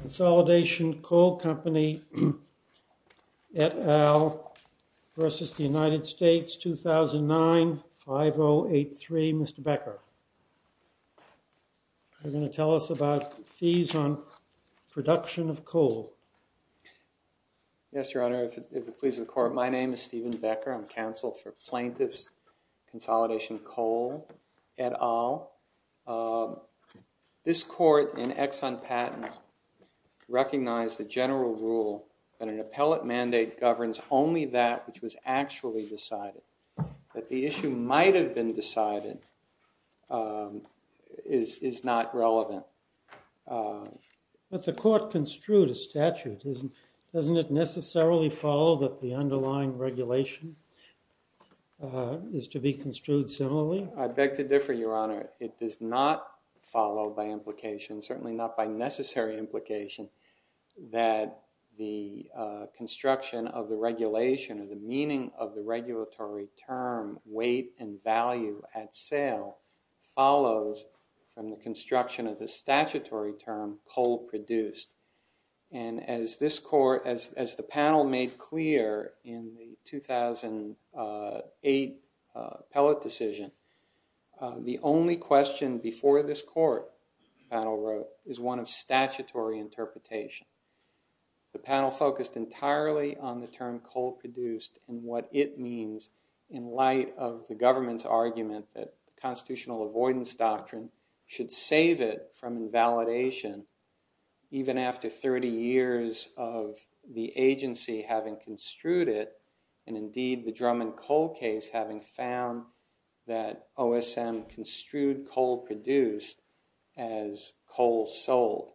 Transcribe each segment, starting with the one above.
Consolidation Coal Company et al. v. United States, 2009, 5083. Mr. Becker, you're going to tell us about fees on production of coal. Yes, Your Honor. If it pleases the court, my name is Stephen Becker. I'm counsel for plaintiffs Consolidation Coal et al. This court in Exxon Patent recognized the general rule that an appellate mandate governs only that which was actually decided. That the issue might have been decided is not relevant. But the court construed a statute. Doesn't it necessarily follow that the underlying regulation is to be construed similarly? I beg to differ, Your Honor. It does not follow by implication, certainly not by necessary implication, that the construction of the regulation or the meaning of the regulatory term weight and value at sale follows from the construction of the statutory term coal produced. And as this panel made clear in the 2008 appellate decision, the only question before this court, the panel wrote, is one of statutory interpretation. The panel focused entirely on the term coal produced and what it means in light of the government's argument that constitutional avoidance doctrine should save it from having construed it, and indeed the Drummond Coal case having found that OSM construed coal produced as coal sold.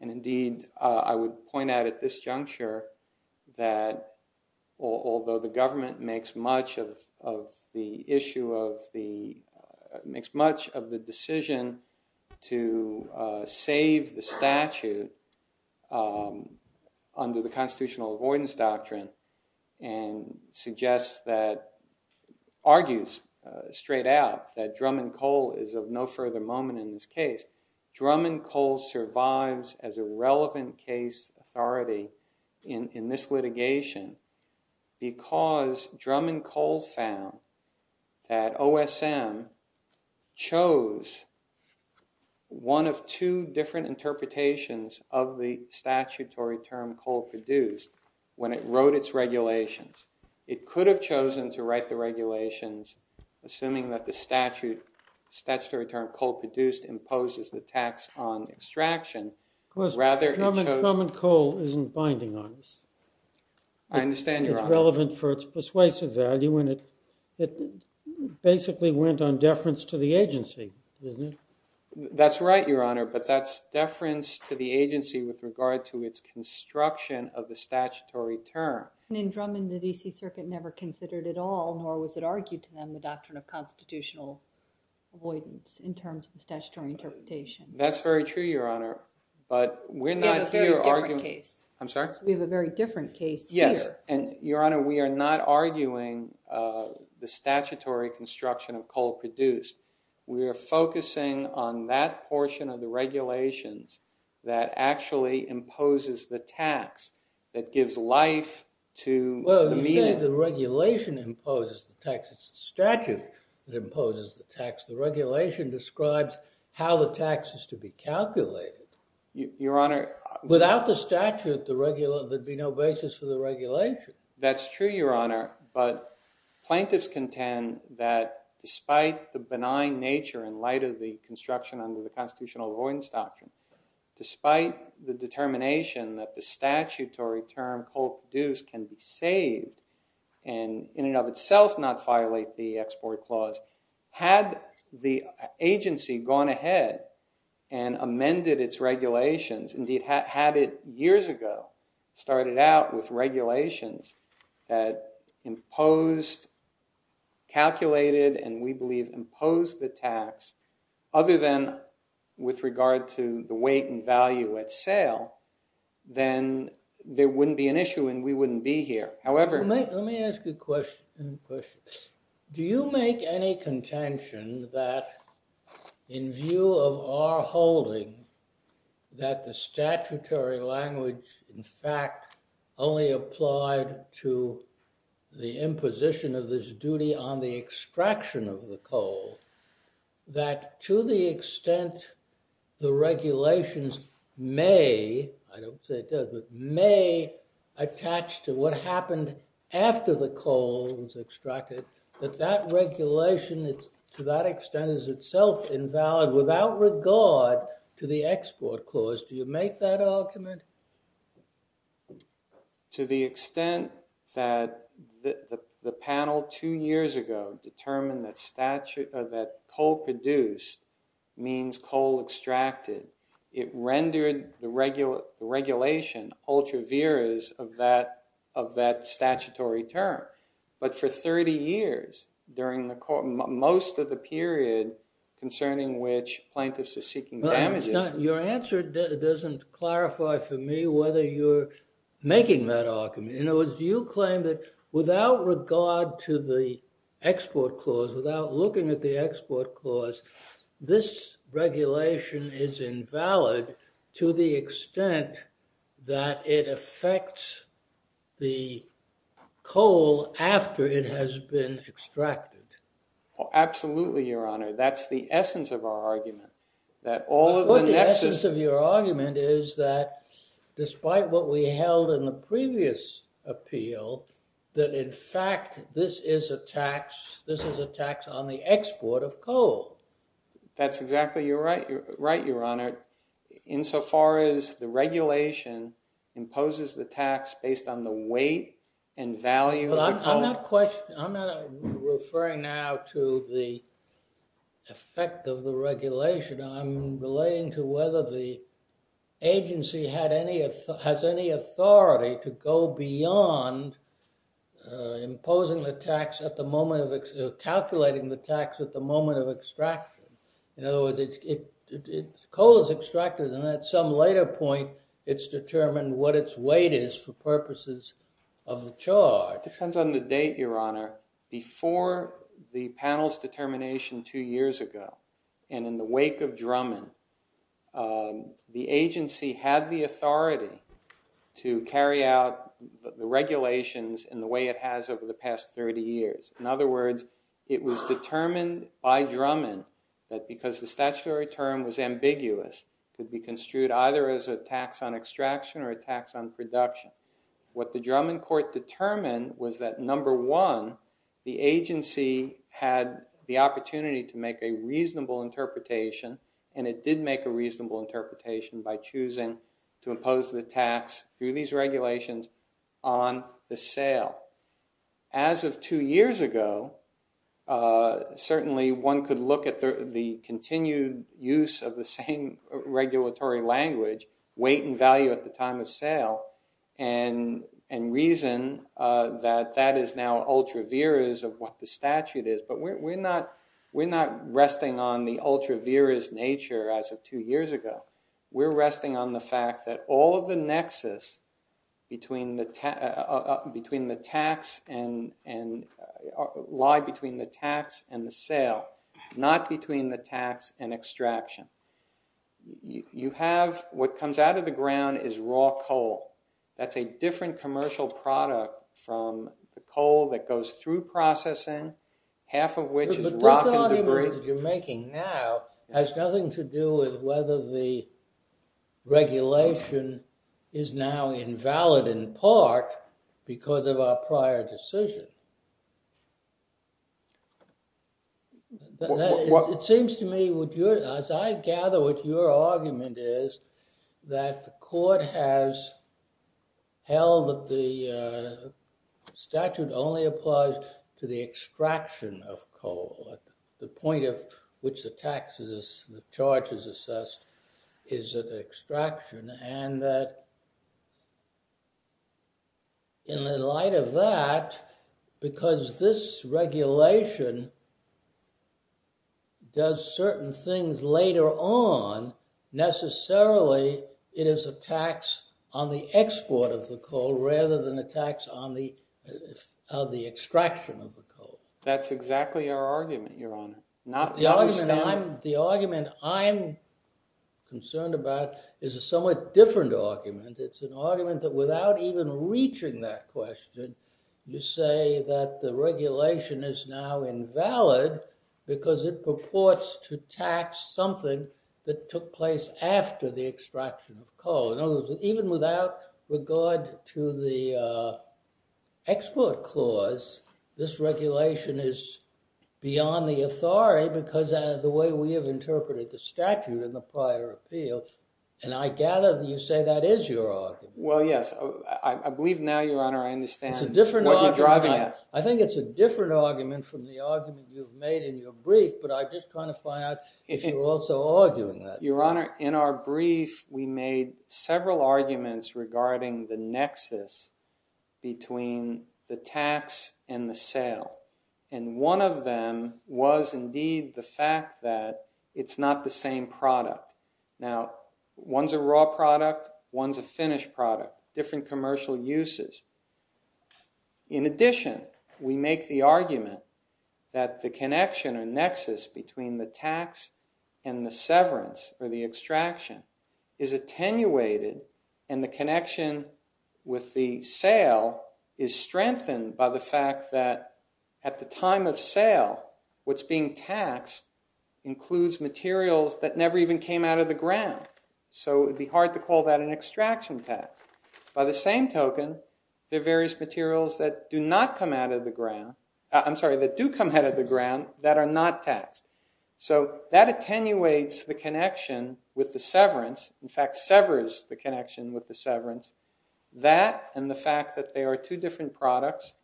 And indeed I would point out at this juncture that although the government makes much of the issue of the, makes constitutional avoidance doctrine and suggests that, argues straight out that Drummond Coal is of no further moment in this case, Drummond Coal survives as a relevant case authority in this litigation because Drummond Coal found that OSM chose one of two different interpretations of the statutory term coal produced when it wrote its regulations. It could have chosen to write the regulations assuming that the statutory term coal produced imposes the tax on extraction. Rather Drummond Coal isn't binding on this. I understand your honor. It is relevant for its persuasive value and it basically went on deference to the agency. That's right your honor, but that's deference to the construction of the statutory term. In Drummond the DC circuit never considered it all, nor was it argued to them the doctrine of constitutional avoidance in terms of the statutory interpretation. That's very true your honor, but we're not here arguing. We have a very different case. I'm sorry? We have a very different case here. Yes, and your honor we are not arguing the statutory construction of coal produced. We are focusing on that portion of the regulations that actually imposes the tax that gives life to the medium. Well you say the regulation imposes the tax. It's the statute that imposes the tax. The regulation describes how the tax is to be calculated. Your honor. Without the statute there would be no basis for the regulation. That's true your honor, but plaintiffs contend that despite the benign nature in light of the construction under the constitutional avoidance doctrine, despite the determination that the statutory term coal produced can be saved and in and of itself not violate the export clause, had the agency gone ahead and amended its regulations, indeed had it years ago, started out with regulations that imposed, calculated, and we believe imposed the tax other than with regard to the weight and value at sale, then there wouldn't be an issue and we wouldn't be here. However, let me ask you a question. Do you make any contention that in view of our holding that the statutory language, in fact, only applied to the imposition of this duty on the extraction of the coal, that to the extent the regulations may, I don't say it does, but may attach to what happened after the coal was extracted, that that regulation, to that extent, is itself invalid without regard to the export clause? Do you make that argument? To the extent that the panel two years ago determined that coal produced means coal extracted, it rendered the regulation ultra viris of that statutory term. But for 30 years during most of the period concerning which plaintiffs are seeking damages. Your answer doesn't clarify for me whether you're making that argument. In other words, do you claim that without regard to the export clause, without looking at the export clause, this regulation is invalid to the extent that it affects the coal after it has been extracted? Absolutely, Your Honor. That's the essence of our argument. But the essence of your argument is that despite what we held in the previous appeal, that in fact this is a tax on the export of coal. That's exactly right, Your Honor, insofar as the regulation imposes the tax based on the weight and value of the coal. I'm not referring now to the effect of the regulation. I'm relating to whether the agency has any authority to go beyond calculating the tax at the moment of extraction. In other words, coal is extracted, and at some later point, it's determined what its weight is for purposes of the charge. To date, Your Honor, before the panel's determination two years ago, and in the wake of Drummond, the agency had the authority to carry out the regulations in the way it has over the past 30 years. In other words, it was determined by Drummond that because the statutory term was ambiguous, it could be construed either as a tax on extraction or a tax on production. What the Drummond court determined was that, number one, the agency had the opportunity to make a reasonable interpretation, and it did make a reasonable interpretation by choosing to impose the tax through these regulations on the sale. As of two years ago, certainly one could look at the continued use of the same regulatory language, weight and value at the time of sale, and reason that that is now ultra viris of what the statute is. But we're not resting on the ultra viris nature as of two years ago. We're resting on the fact that all of the nexus between the tax and the sale, not between the tax and extraction. You have what comes out of the ground is raw coal. That's a different commercial product from the coal that goes through processing, half of which is rock and debris. The argument that you're making now has nothing to do with whether the regulation is now invalid in part because of our prior decision. It seems to me, as I gather what your argument is, that the court has held that the statute only applies to the extraction of coal. The point of which the tax is, the charge is assessed is that extraction and that In the light of that, because this regulation does certain things later on, necessarily it is a tax on the export of the coal rather than a tax on the extraction of the coal. That's exactly our argument, Your Honor. The argument I'm concerned about is a somewhat different argument. It's an argument that without even reaching that question, you say that the regulation is now invalid because it purports to tax something that took place after the extraction of coal. In other words, even without regard to the export clause, this regulation is beyond the authority because of the way we have interpreted the statute in the prior appeal. And I gather that you say that is your argument. Well, yes. I believe now, Your Honor, I understand what you're driving at. I think it's a different argument from the argument you've made in your brief, but I'm just trying to find out if you're also arguing that. Your Honor, in our brief, we made several arguments regarding the nexus between the tax and the sale. And one of them was indeed the fact that it's not the same product. Now, one's a raw product, one's a finished product, different commercial uses. In addition, we make the argument that the connection or nexus between the tax and the severance or the extraction is attenuated and the connection with the sale is strengthened by the fact that at the time of sale, what's being taxed includes materials that never even came out of the ground. So it would be hard to call that an extraction tax. By the same token, there are various materials that do come out of the ground that are not taxed. So that attenuates the connection with the severance, in fact, severs the connection with the severance. That and the fact that they are two different products.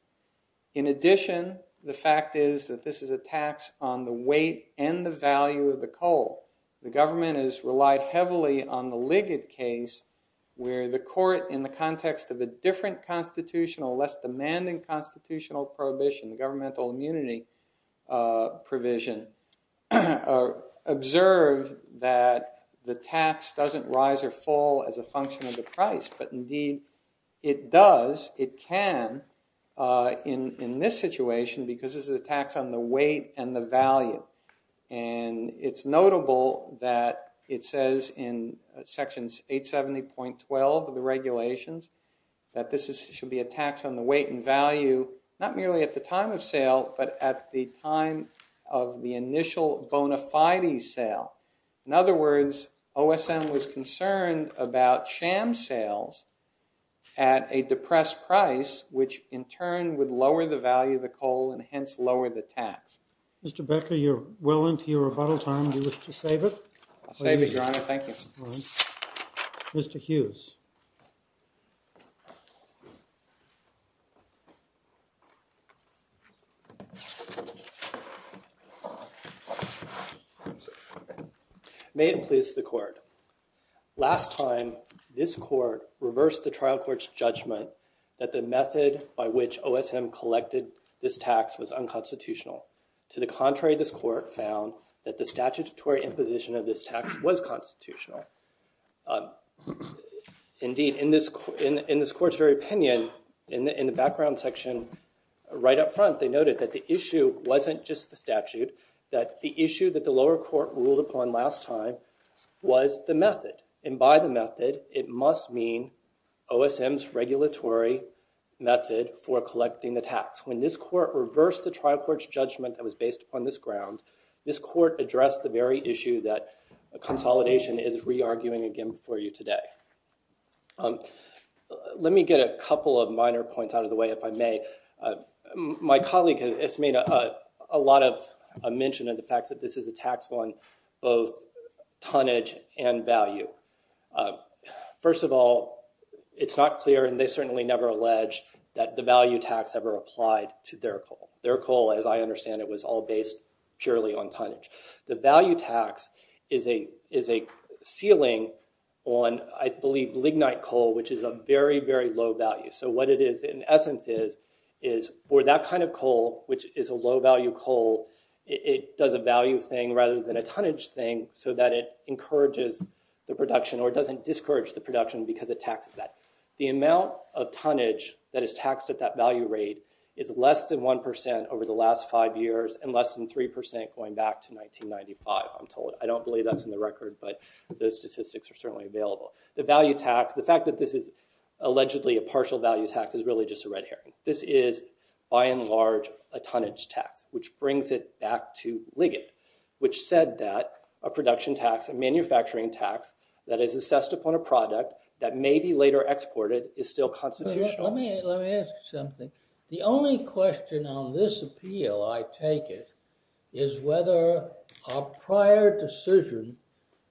In addition, the fact is that this is a tax on the weight and the value of the coal. The government has relied heavily on the Liggett case where the court, in the context of a different constitutional, less demanding constitutional prohibition, governmental immunity provision, observed that the tax doesn't rise or fall as a function of the price. But indeed it does, it can, in this situation because this is a tax on the weight and the value. And it's notable that it says in sections 870.12 of the regulations that this should be a tax on the weight and value, not merely at the time of sale, but at the time of the initial bona fide sale. In other words, OSM was concerned about sham sales at a depressed price, which in turn would lower the value of the coal and hence lower the tax. Mr. Becker, you're well into your rebuttal time. Do you wish to save it? I'll save it, Your Honor. Thank you. Mr. Hughes. May it please the court. Last time, this court reversed the trial court's judgment that the method by which OSM collected this tax was unconstitutional. To the contrary, this court found that the statutory imposition of this tax was constitutional. Indeed, in this court's very opinion, in the background section right up front, they noted that the issue wasn't just the statute. That the issue that the lower court ruled upon last time was the method. And by the method, it must mean OSM's regulatory method for collecting the tax. When this court reversed the trial court's judgment that was based upon this ground, this court addressed the very issue that consolidation is re-arguing again before you today. Let me get a couple of minor points out of the way, if I may. My colleague has made a lot of mention of the fact that this is a tax on both tonnage and value. First of all, it's not clear, and they certainly never alleged, that the value tax ever applied to their coal. Their coal, as I understand it, was all based purely on tonnage. The value tax is a ceiling on, I believe, lignite coal, which is a very, very low value. So what it is, in essence, is for that kind of coal, which is a low value coal, it does a value thing rather than a tonnage thing so that it encourages the production or doesn't discourage the production because it taxes that. The amount of tonnage that is taxed at that value rate is less than 1% over the last five years and less than 3% going back to 1995, I'm told. I don't believe that's in the record, but those statistics are certainly available. The value tax, the fact that this is allegedly a partial value tax is really just a red herring. This is, by and large, a tonnage tax, which brings it back to lignite, which said that a production tax, a manufacturing tax that is assessed upon a product that may be later exported is still constitutional. Let me ask you something. The only question on this appeal, I take it, is whether a prior decision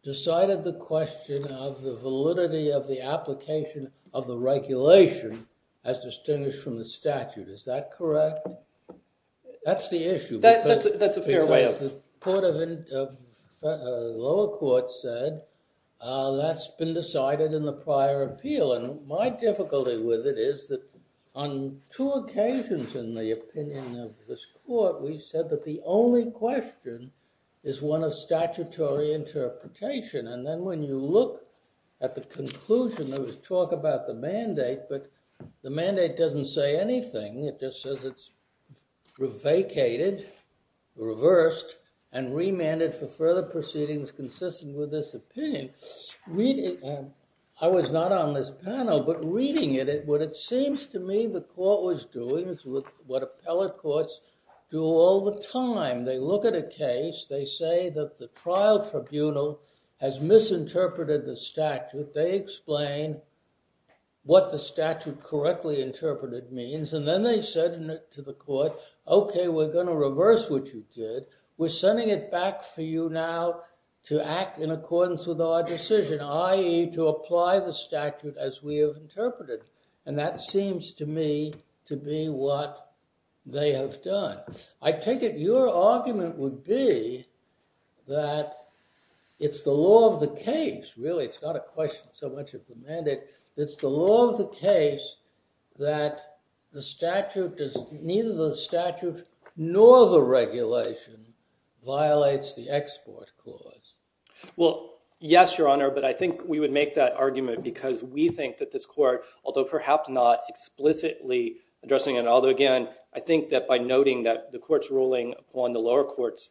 decided the question of the validity of the application of the regulation as distinguished from the statute. Is that correct? That's the issue. That's a fair way of. The lower court said that's been decided in the prior appeal. And my difficulty with it is that on two occasions in the opinion of this court, we said that the only question is one of statutory interpretation. And then when you look at the conclusion, there was talk about the mandate, but the mandate doesn't say anything. It just says it's vacated, reversed, and remanded for further proceedings consistent with this opinion. I was not on this panel, but reading it, what it seems to me the court was doing is what appellate courts do all the time. They look at a case. They say that the trial tribunal has misinterpreted the statute. They explain what the statute correctly interpreted means. And then they said to the court, OK, we're going to reverse what you did. We're sending it back for you now to act in accordance with our decision, i.e., to apply the statute as we have interpreted. And that seems to me to be what they have done. I take it your argument would be that it's the law of the case, really. It's not a question so much of the mandate. It's the law of the case that neither the statute nor the regulation violates the export clause. Well, yes, Your Honor, but I think we would make that argument because we think that this court, although perhaps not explicitly addressing it, although, again, I think that by noting that the court's ruling upon the lower court's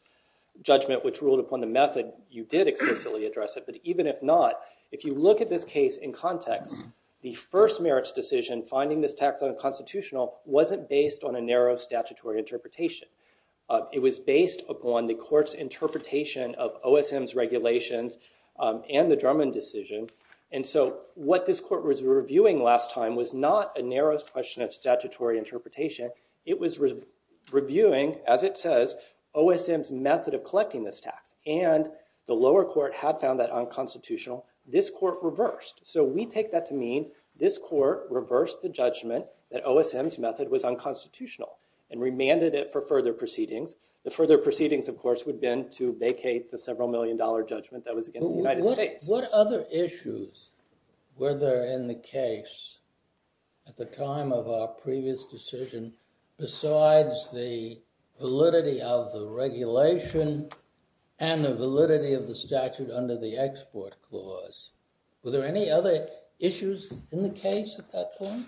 judgment, which ruled upon the method, you did explicitly address it. But even if not, if you look at this case in context, the first merits decision, finding this tax unconstitutional, wasn't based on a narrow statutory interpretation. It was based upon the court's interpretation of OSM's regulations and the Drummond decision. And so what this court was reviewing last time was not a narrow question of statutory interpretation. It was reviewing, as it says, OSM's method of collecting this tax. And the lower court had found that unconstitutional. This court reversed. So we take that to mean this court reversed the judgment that OSM's method was unconstitutional and remanded it for further proceedings. The further proceedings, of course, would have been to vacate the several million dollar judgment that was against the United States. What other issues were there in the case at the time of our previous decision besides the validity of the regulation and the validity of the statute under the export clause? Were there any other issues in the case at that point?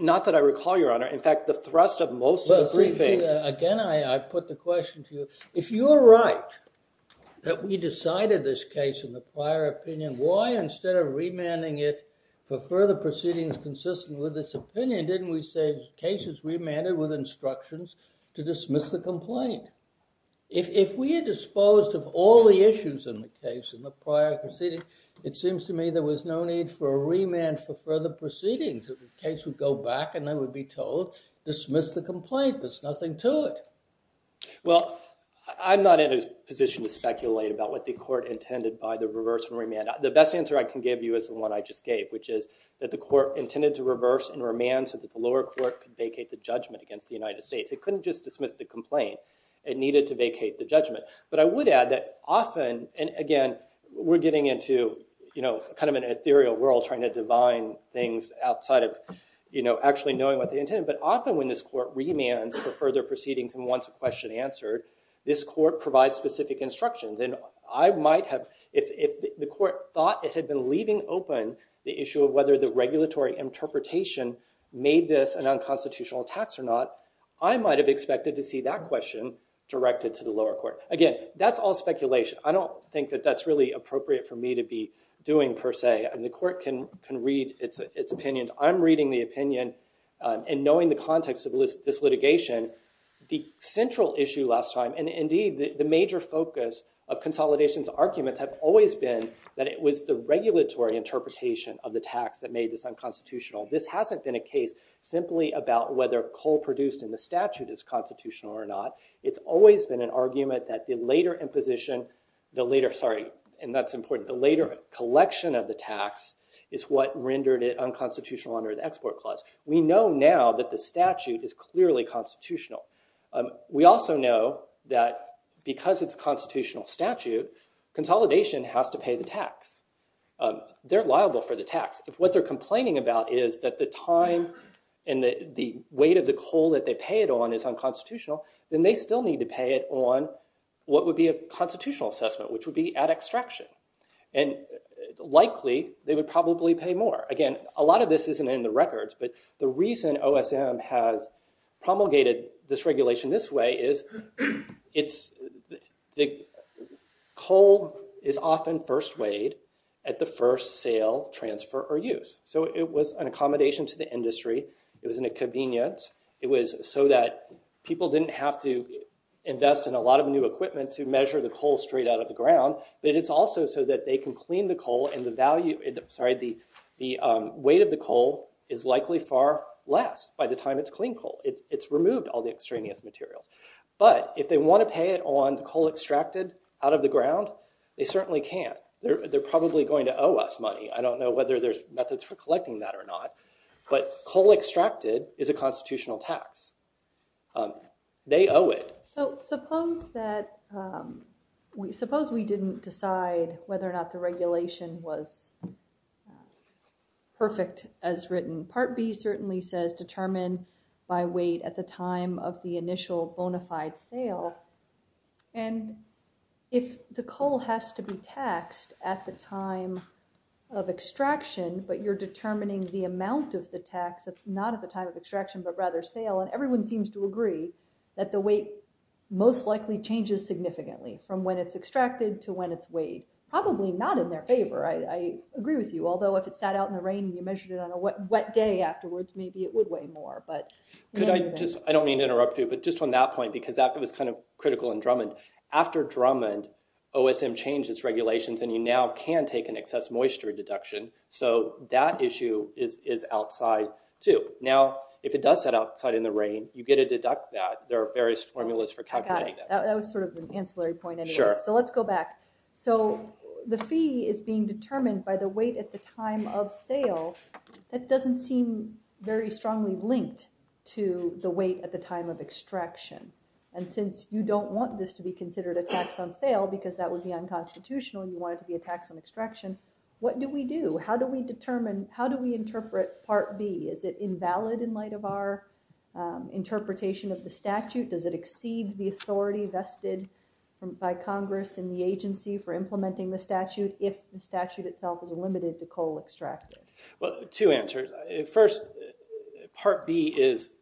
Not that I recall, Your Honor. In fact, the thrust of most of the briefing. Again, I put the question to you. If you're right that we decided this case in the prior opinion, why, instead of remanding it for further proceedings consistent with this opinion, didn't we say the case is remanded with instructions to dismiss the complaint? If we had disposed of all the issues in the case in the prior proceeding, it seems to me there was no need for a remand for further proceedings. The case would go back and they would be told, dismiss the complaint. There's nothing to it. Well, I'm not in a position to speculate about what the court intended by the reverse remand. The best answer I can give you is the one I just gave, which is that the court intended to reverse and remand so that the lower court could vacate the judgment against the United States. It couldn't just dismiss the complaint. It needed to vacate the judgment. But I would add that often, and again, we're getting into kind of an ethereal world trying to divine things outside of actually knowing what they intended, but often when this court remands for further proceedings and wants a question answered, this court provides specific instructions. And I might have, if the court thought it had been leaving open the issue of whether the regulatory interpretation made this an unconstitutional tax or not, I might have expected to see that question directed to the lower court. Again, that's all speculation. I don't think that that's really appropriate for me to be doing per se, and the court can read its opinion. I'm reading the opinion and knowing the context of this litigation. The central issue last time, and indeed the major focus of consolidation's arguments, have always been that it was the regulatory interpretation of the tax that made this unconstitutional. This hasn't been a case simply about whether coal produced in the statute is constitutional or not. It's always been an argument that the later imposition, the later, sorry, and that's important, the later collection of the tax is what rendered it unconstitutional under the Export Clause. We know now that the statute is clearly constitutional. We also know that because it's a constitutional statute, consolidation has to pay the tax. They're liable for the tax. If what they're complaining about is that the time and the weight of the coal that they pay it on is unconstitutional, then they still need to pay it on what would be a constitutional assessment, which would be at extraction. Likely, they would probably pay more. Again, a lot of this isn't in the records, but the reason OSM has promulgated this regulation this way is coal is often first weighed at the first sale, transfer, or use. It was an accommodation to the industry. It was in a convenience. It was so that people didn't have to invest in a lot of new equipment to measure the coal straight out of the ground. It is also so that they can clean the coal and the weight of the coal is likely far less by the time it's clean coal. It's removed all the extraneous material. But if they want to pay it on coal extracted out of the ground, they certainly can't. They're probably going to owe us money. I don't know whether there's methods for collecting that or not, but coal extracted is a constitutional tax. They owe it. So suppose we didn't decide whether or not the regulation was perfect as written. Part B certainly says determine by weight at the time of the initial bona fide sale. And if the coal has to be taxed at the time of extraction, but you're determining the amount of the tax, not at the time of extraction, but rather sale, and everyone seems to agree that the weight most likely changes significantly from when it's extracted to when it's weighed, probably not in their favor. I agree with you, although if it sat out in the rain and you measured it on a wet day afterwards, maybe it would weigh more. I don't mean to interrupt you, but just on that point, because that was kind of critical in Drummond. After Drummond, OSM changed its regulations and you now can take an excess moisture deduction. So that issue is outside too. Now, if it does set outside in the rain, you get to deduct that. There are various formulas for calculating that. I got it. That was sort of an ancillary point anyway. So let's go back. So the fee is being determined by the weight at the time of sale. That doesn't seem very strongly linked to the weight at the time of extraction. And since you don't want this to be considered a tax on sale because that would be unconstitutional, you want it to be a tax on extraction, what do we do? How do we interpret Part B? Is it invalid in light of our interpretation of the statute? Does it exceed the authority vested by Congress and the agency for implementing the statute if the statute itself is limited to coal extracted? Well, two answers. First, Part B is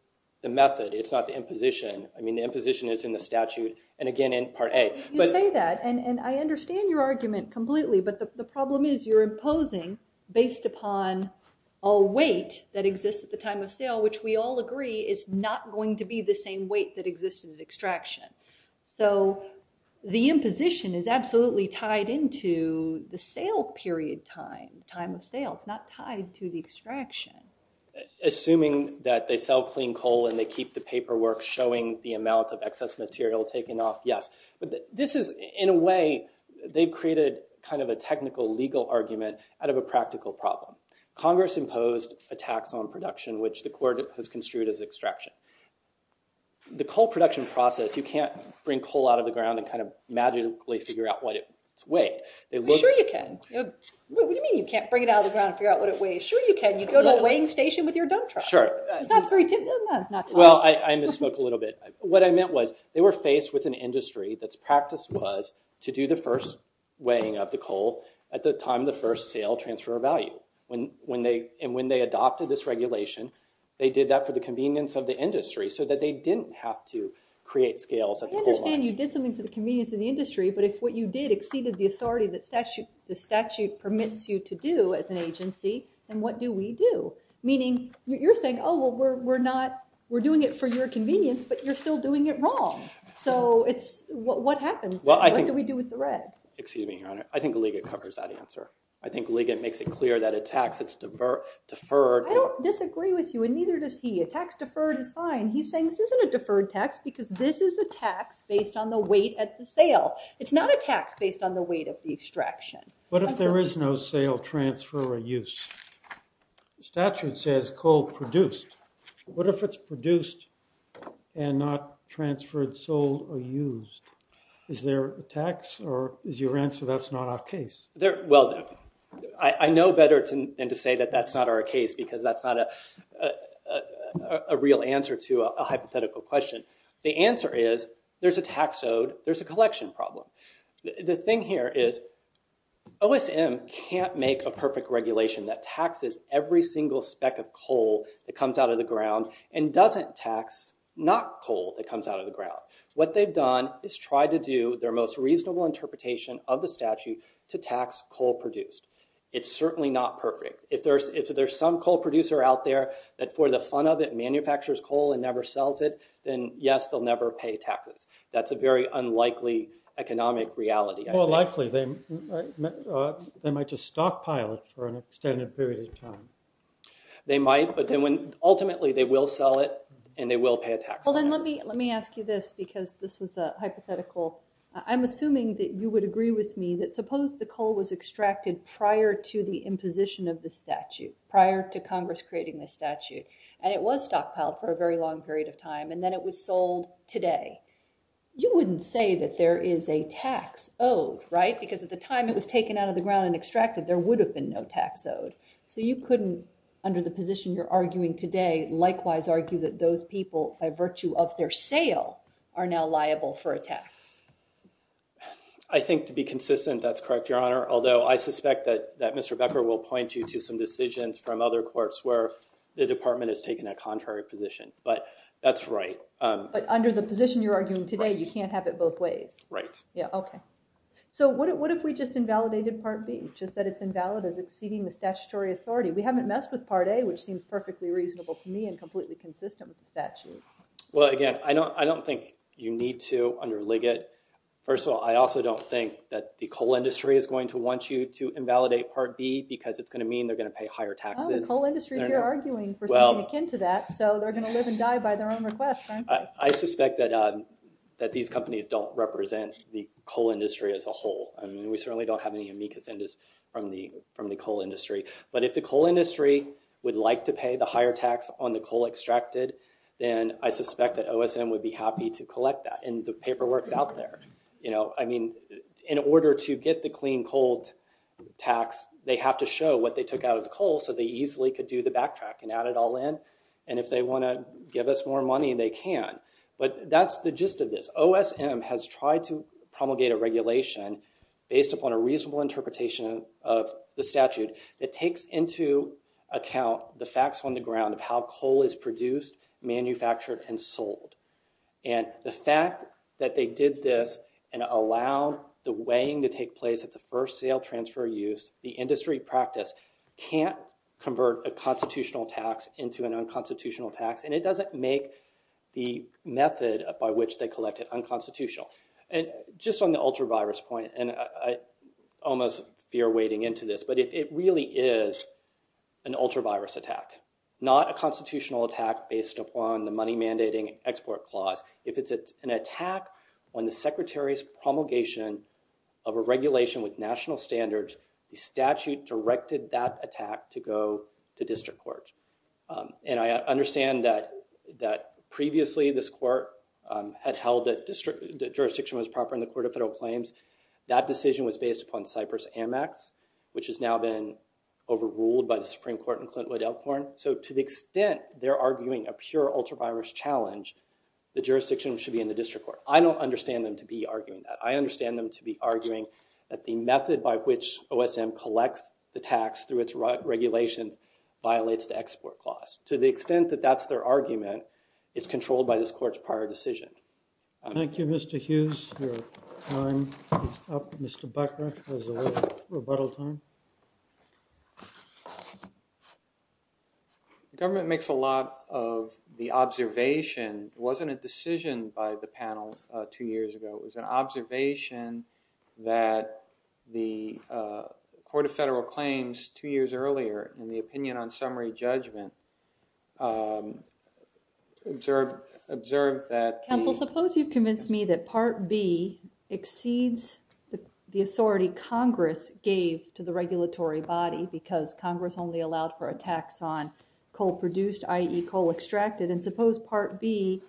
the method. It's not the imposition. I mean, the imposition is in the statute, and again in Part A. You say that, and I understand your argument completely, but the problem is you're imposing based upon a weight that exists at the time of sale, which we all agree is not going to be the same weight that exists in the extraction. So the imposition is absolutely tied into the sale period time, time of sale. It's not tied to the extraction. Assuming that they sell clean coal and they keep the paperwork showing the amount of excess material taken off, yes. But this is, in a way, they've created kind of a technical legal argument out of a practical problem. Congress imposed a tax on production, which the court has construed as extraction. The coal production process, you can't bring coal out of the ground and kind of magically figure out what its weight. Sure you can. What do you mean you can't bring it out of the ground and figure out what it weighs? Sure you can. You go to a weighing station with your dump truck. Sure. Well, I misspoke a little bit. What I meant was they were faced with an industry that's practice was to do the first weighing of the coal at the time of the first sale transfer of value. And when they adopted this regulation, they did that for the convenience of the industry so that they didn't have to create scales at the coal mines. I understand you did something for the convenience of the industry, but if what you did exceeded the authority that statute permits you to do as an agency, then what do we do? Meaning you're saying, oh, well, we're doing it for your convenience, but you're still doing it wrong. So what happens? What do we do with the red? Excuse me, Your Honor. I think Liggett covers that answer. I think Liggett makes it clear that a tax is deferred. I don't disagree with you, and neither does he. A tax deferred is fine. He's saying this isn't a deferred tax because this is a tax based on the weight at the sale. It's not a tax based on the weight of the extraction. What if there is no sale, transfer, or use? Statute says coal produced. What if it's produced and not transferred, sold, or used? Is there a tax, or is your answer that's not our case? Well, I know better than to say that that's not our case because that's not a real answer to a hypothetical question. The answer is there's a tax owed. There's a collection problem. The thing here is OSM can't make a perfect regulation that taxes every single speck of coal that comes out of the ground and doesn't tax not coal that comes out of the ground. What they've done is tried to do their most reasonable interpretation of the statute to tax coal produced. It's certainly not perfect. If there's some coal producer out there that for the fun of it manufactures coal and never sells it, then yes, they'll never pay taxes. That's a very unlikely economic reality. More likely, they might just stockpile it for an extended period of time. They might, but ultimately they will sell it and they will pay a tax on it. Let me ask you this because this was a hypothetical. I'm assuming that you would agree with me that suppose the coal was extracted prior to the imposition of the statute, prior to Congress creating the statute, and it was stockpiled for a very long period of time, and then it was sold today. You wouldn't say that there is a tax owed, right? Because at the time it was taken out of the ground and extracted, there would have been no tax owed. So you couldn't, under the position you're arguing today, likewise argue that those people, by virtue of their sale, are now liable for a tax. I think to be consistent, that's correct, Your Honor, although I suspect that Mr. Becker will point you to some decisions from other courts where the department has taken a contrary position, but that's right. But under the position you're arguing today, you can't have it both ways. Right. Yeah, okay. So what if we just invalidated Part B, just that it's invalid as exceeding the statutory authority? We haven't messed with Part A, which seems perfectly reasonable to me and completely consistent with the statute. Well, again, I don't think you need to underlig it. First of all, I also don't think that the coal industry is going to want you to invalidate Part B because it's going to mean they're going to pay higher taxes. Oh, the coal industry is here arguing for something akin to that, so they're going to live and die by their own request, aren't they? I suspect that these companies don't represent the coal industry as a whole. I mean, we certainly don't have any amicus from the coal industry. But if the coal industry would like to pay the higher tax on the coal extracted, then I suspect that OSM would be happy to collect that and the paperwork's out there. I mean, in order to get the clean coal tax, they have to show what they took out of the coal so they easily could do the backtrack and add it all in. And if they want to give us more money, they can. But that's the gist of this. OSM has tried to promulgate a regulation based upon a reasonable interpretation of the statute that takes into account the facts on the ground of how coal is produced, manufactured, and sold. And the fact that they did this and allowed the weighing to take place at the first sale, transfer, use, the industry practice, can't convert a constitutional tax into an unconstitutional tax. And it doesn't make the method by which they collect it unconstitutional. And just on the ultra-virus point, and I almost fear wading into this, but it really is an ultra-virus attack, not a constitutional attack based upon the money mandating export clause. If it's an attack on the Secretary's promulgation of a regulation with national standards, the statute directed that attack to go to district court. And I understand that previously this court had held that jurisdiction was proper in the Court of Federal Claims. That decision was based upon Cypress-Amex, which has now been overruled by the Supreme Court and Clint Wood Elkhorn. So to the extent they're arguing a pure ultra-virus challenge, the jurisdiction should be in the district court. I don't understand them to be arguing that. I understand them to be arguing that the method by which OSM collects the tax through its regulations violates the export clause. To the extent that that's their argument, it's controlled by this court's prior decision. Thank you, Mr. Hughes. Your time is up. Mr. Becker has a little rebuttal time. The government makes a lot of the observation. It wasn't a decision by the panel two years ago. It was an observation that the Court of Federal Claims two years earlier in the opinion on summary judgment observed that... because Congress only allowed for a tax on coal produced, i.e., coal extracted. And suppose Part B,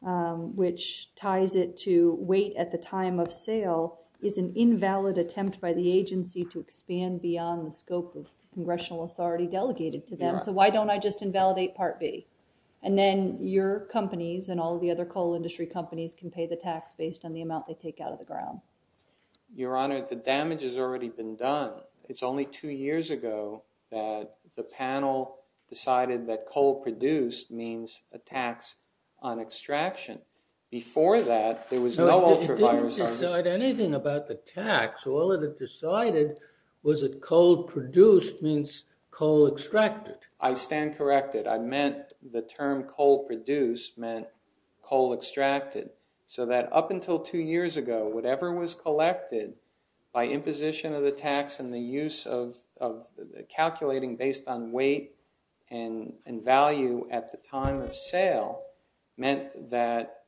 which ties it to wait at the time of sale, is an invalid attempt by the agency to expand beyond the scope of congressional authority delegated to them. So why don't I just invalidate Part B? And then your companies and all the other coal industry companies can pay the tax based on the amount they take out of the ground. Your Honor, the damage has already been done. It's only two years ago that the panel decided that coal produced means a tax on extraction. Before that, there was no ultraviolet... So it didn't decide anything about the tax. All it had decided was that coal produced means coal extracted. I stand corrected. I meant the term coal produced meant coal extracted. So that up until two years ago, whatever was collected by imposition of the tax and the use of calculating based on weight and value at the time of sale meant that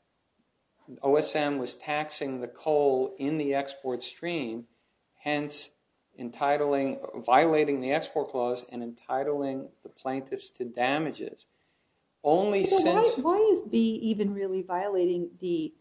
OSM was taxing the coal in the export stream, hence violating the export clause and entitling the plaintiffs to damages. Why is B even really violating the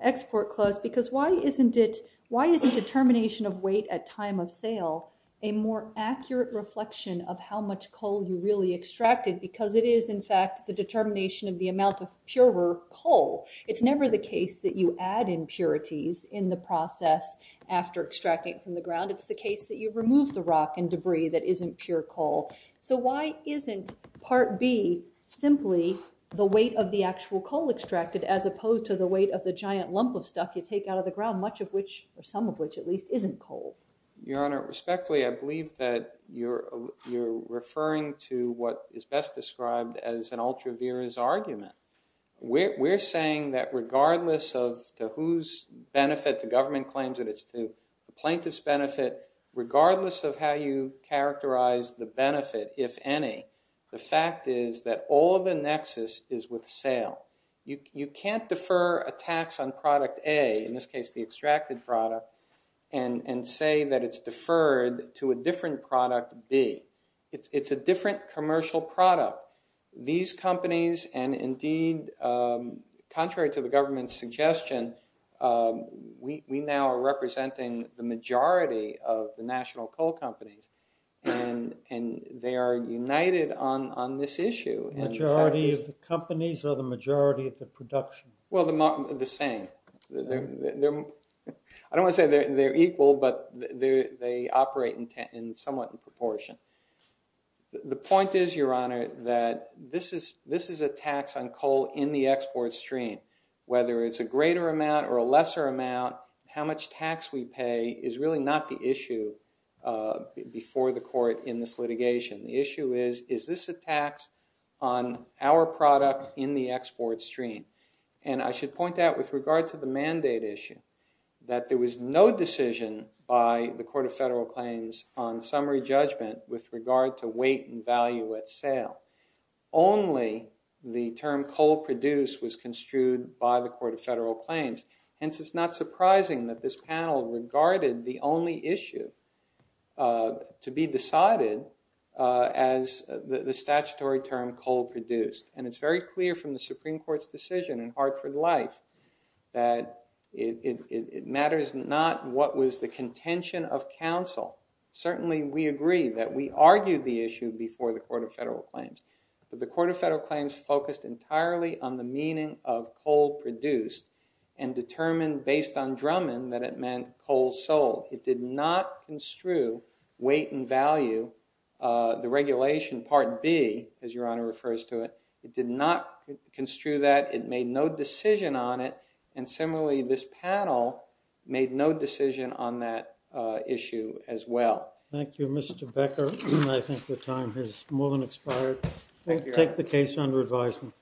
export clause? Because why isn't determination of weight at time of sale a more accurate reflection of how much coal you really extracted? Because it is, in fact, the determination of the amount of purer coal. It's never the case that you add impurities in the process after extracting from the ground. It's the case that you remove the rock and debris that isn't pure coal. So why isn't Part B simply the weight of the actual coal extracted as opposed to the weight of the giant lump of stuff you take out of the ground, much of which, or some of which at least, isn't coal? Your Honor, respectfully, I believe that you're referring to what is best described as an ultra-virous argument. We're saying that regardless of to whose benefit the government claims that it's to, the plaintiff's benefit, regardless of how you characterize the benefit, if any, the fact is that all the nexus is with sale. You can't defer a tax on product A, in this case the extracted product, and say that it's deferred to a different product B. It's a different commercial product. These companies, and indeed, contrary to the government's suggestion, we now are representing the majority of the national coal companies, and they are united on this issue. The majority of the companies or the majority of the production? Well, the same. I don't want to say they're equal, but they operate somewhat in proportion. The point is, Your Honor, that this is a tax on coal in the export stream. Whether it's a greater amount or a lesser amount, how much tax we pay is really not the issue before the court in this litigation. The issue is, is this a tax on our product in the export stream? I should point out, with regard to the mandate issue, that there was no decision by the Court of Federal Claims on summary judgment with regard to weight and value at sale. Only the term coal produced was construed by the Court of Federal Claims. Hence, it's not surprising that this panel regarded the only issue to be decided as the statutory term coal produced. And it's very clear from the Supreme Court's decision in Hartford Life that it matters not what was the contention of counsel. Certainly, we agree that we argued the issue before the Court of Federal Claims. But the Court of Federal Claims focused entirely on the meaning of coal produced and determined, based on Drummond, that it meant coal sold. It did not construe weight and value, the regulation Part B, as Your Honor refers to it. It did not construe that. It made no decision on it. And similarly, this panel made no decision on that issue as well. Thank you, Mr. Becker. I think the time has more than expired. Thank you. Take the case under advisement.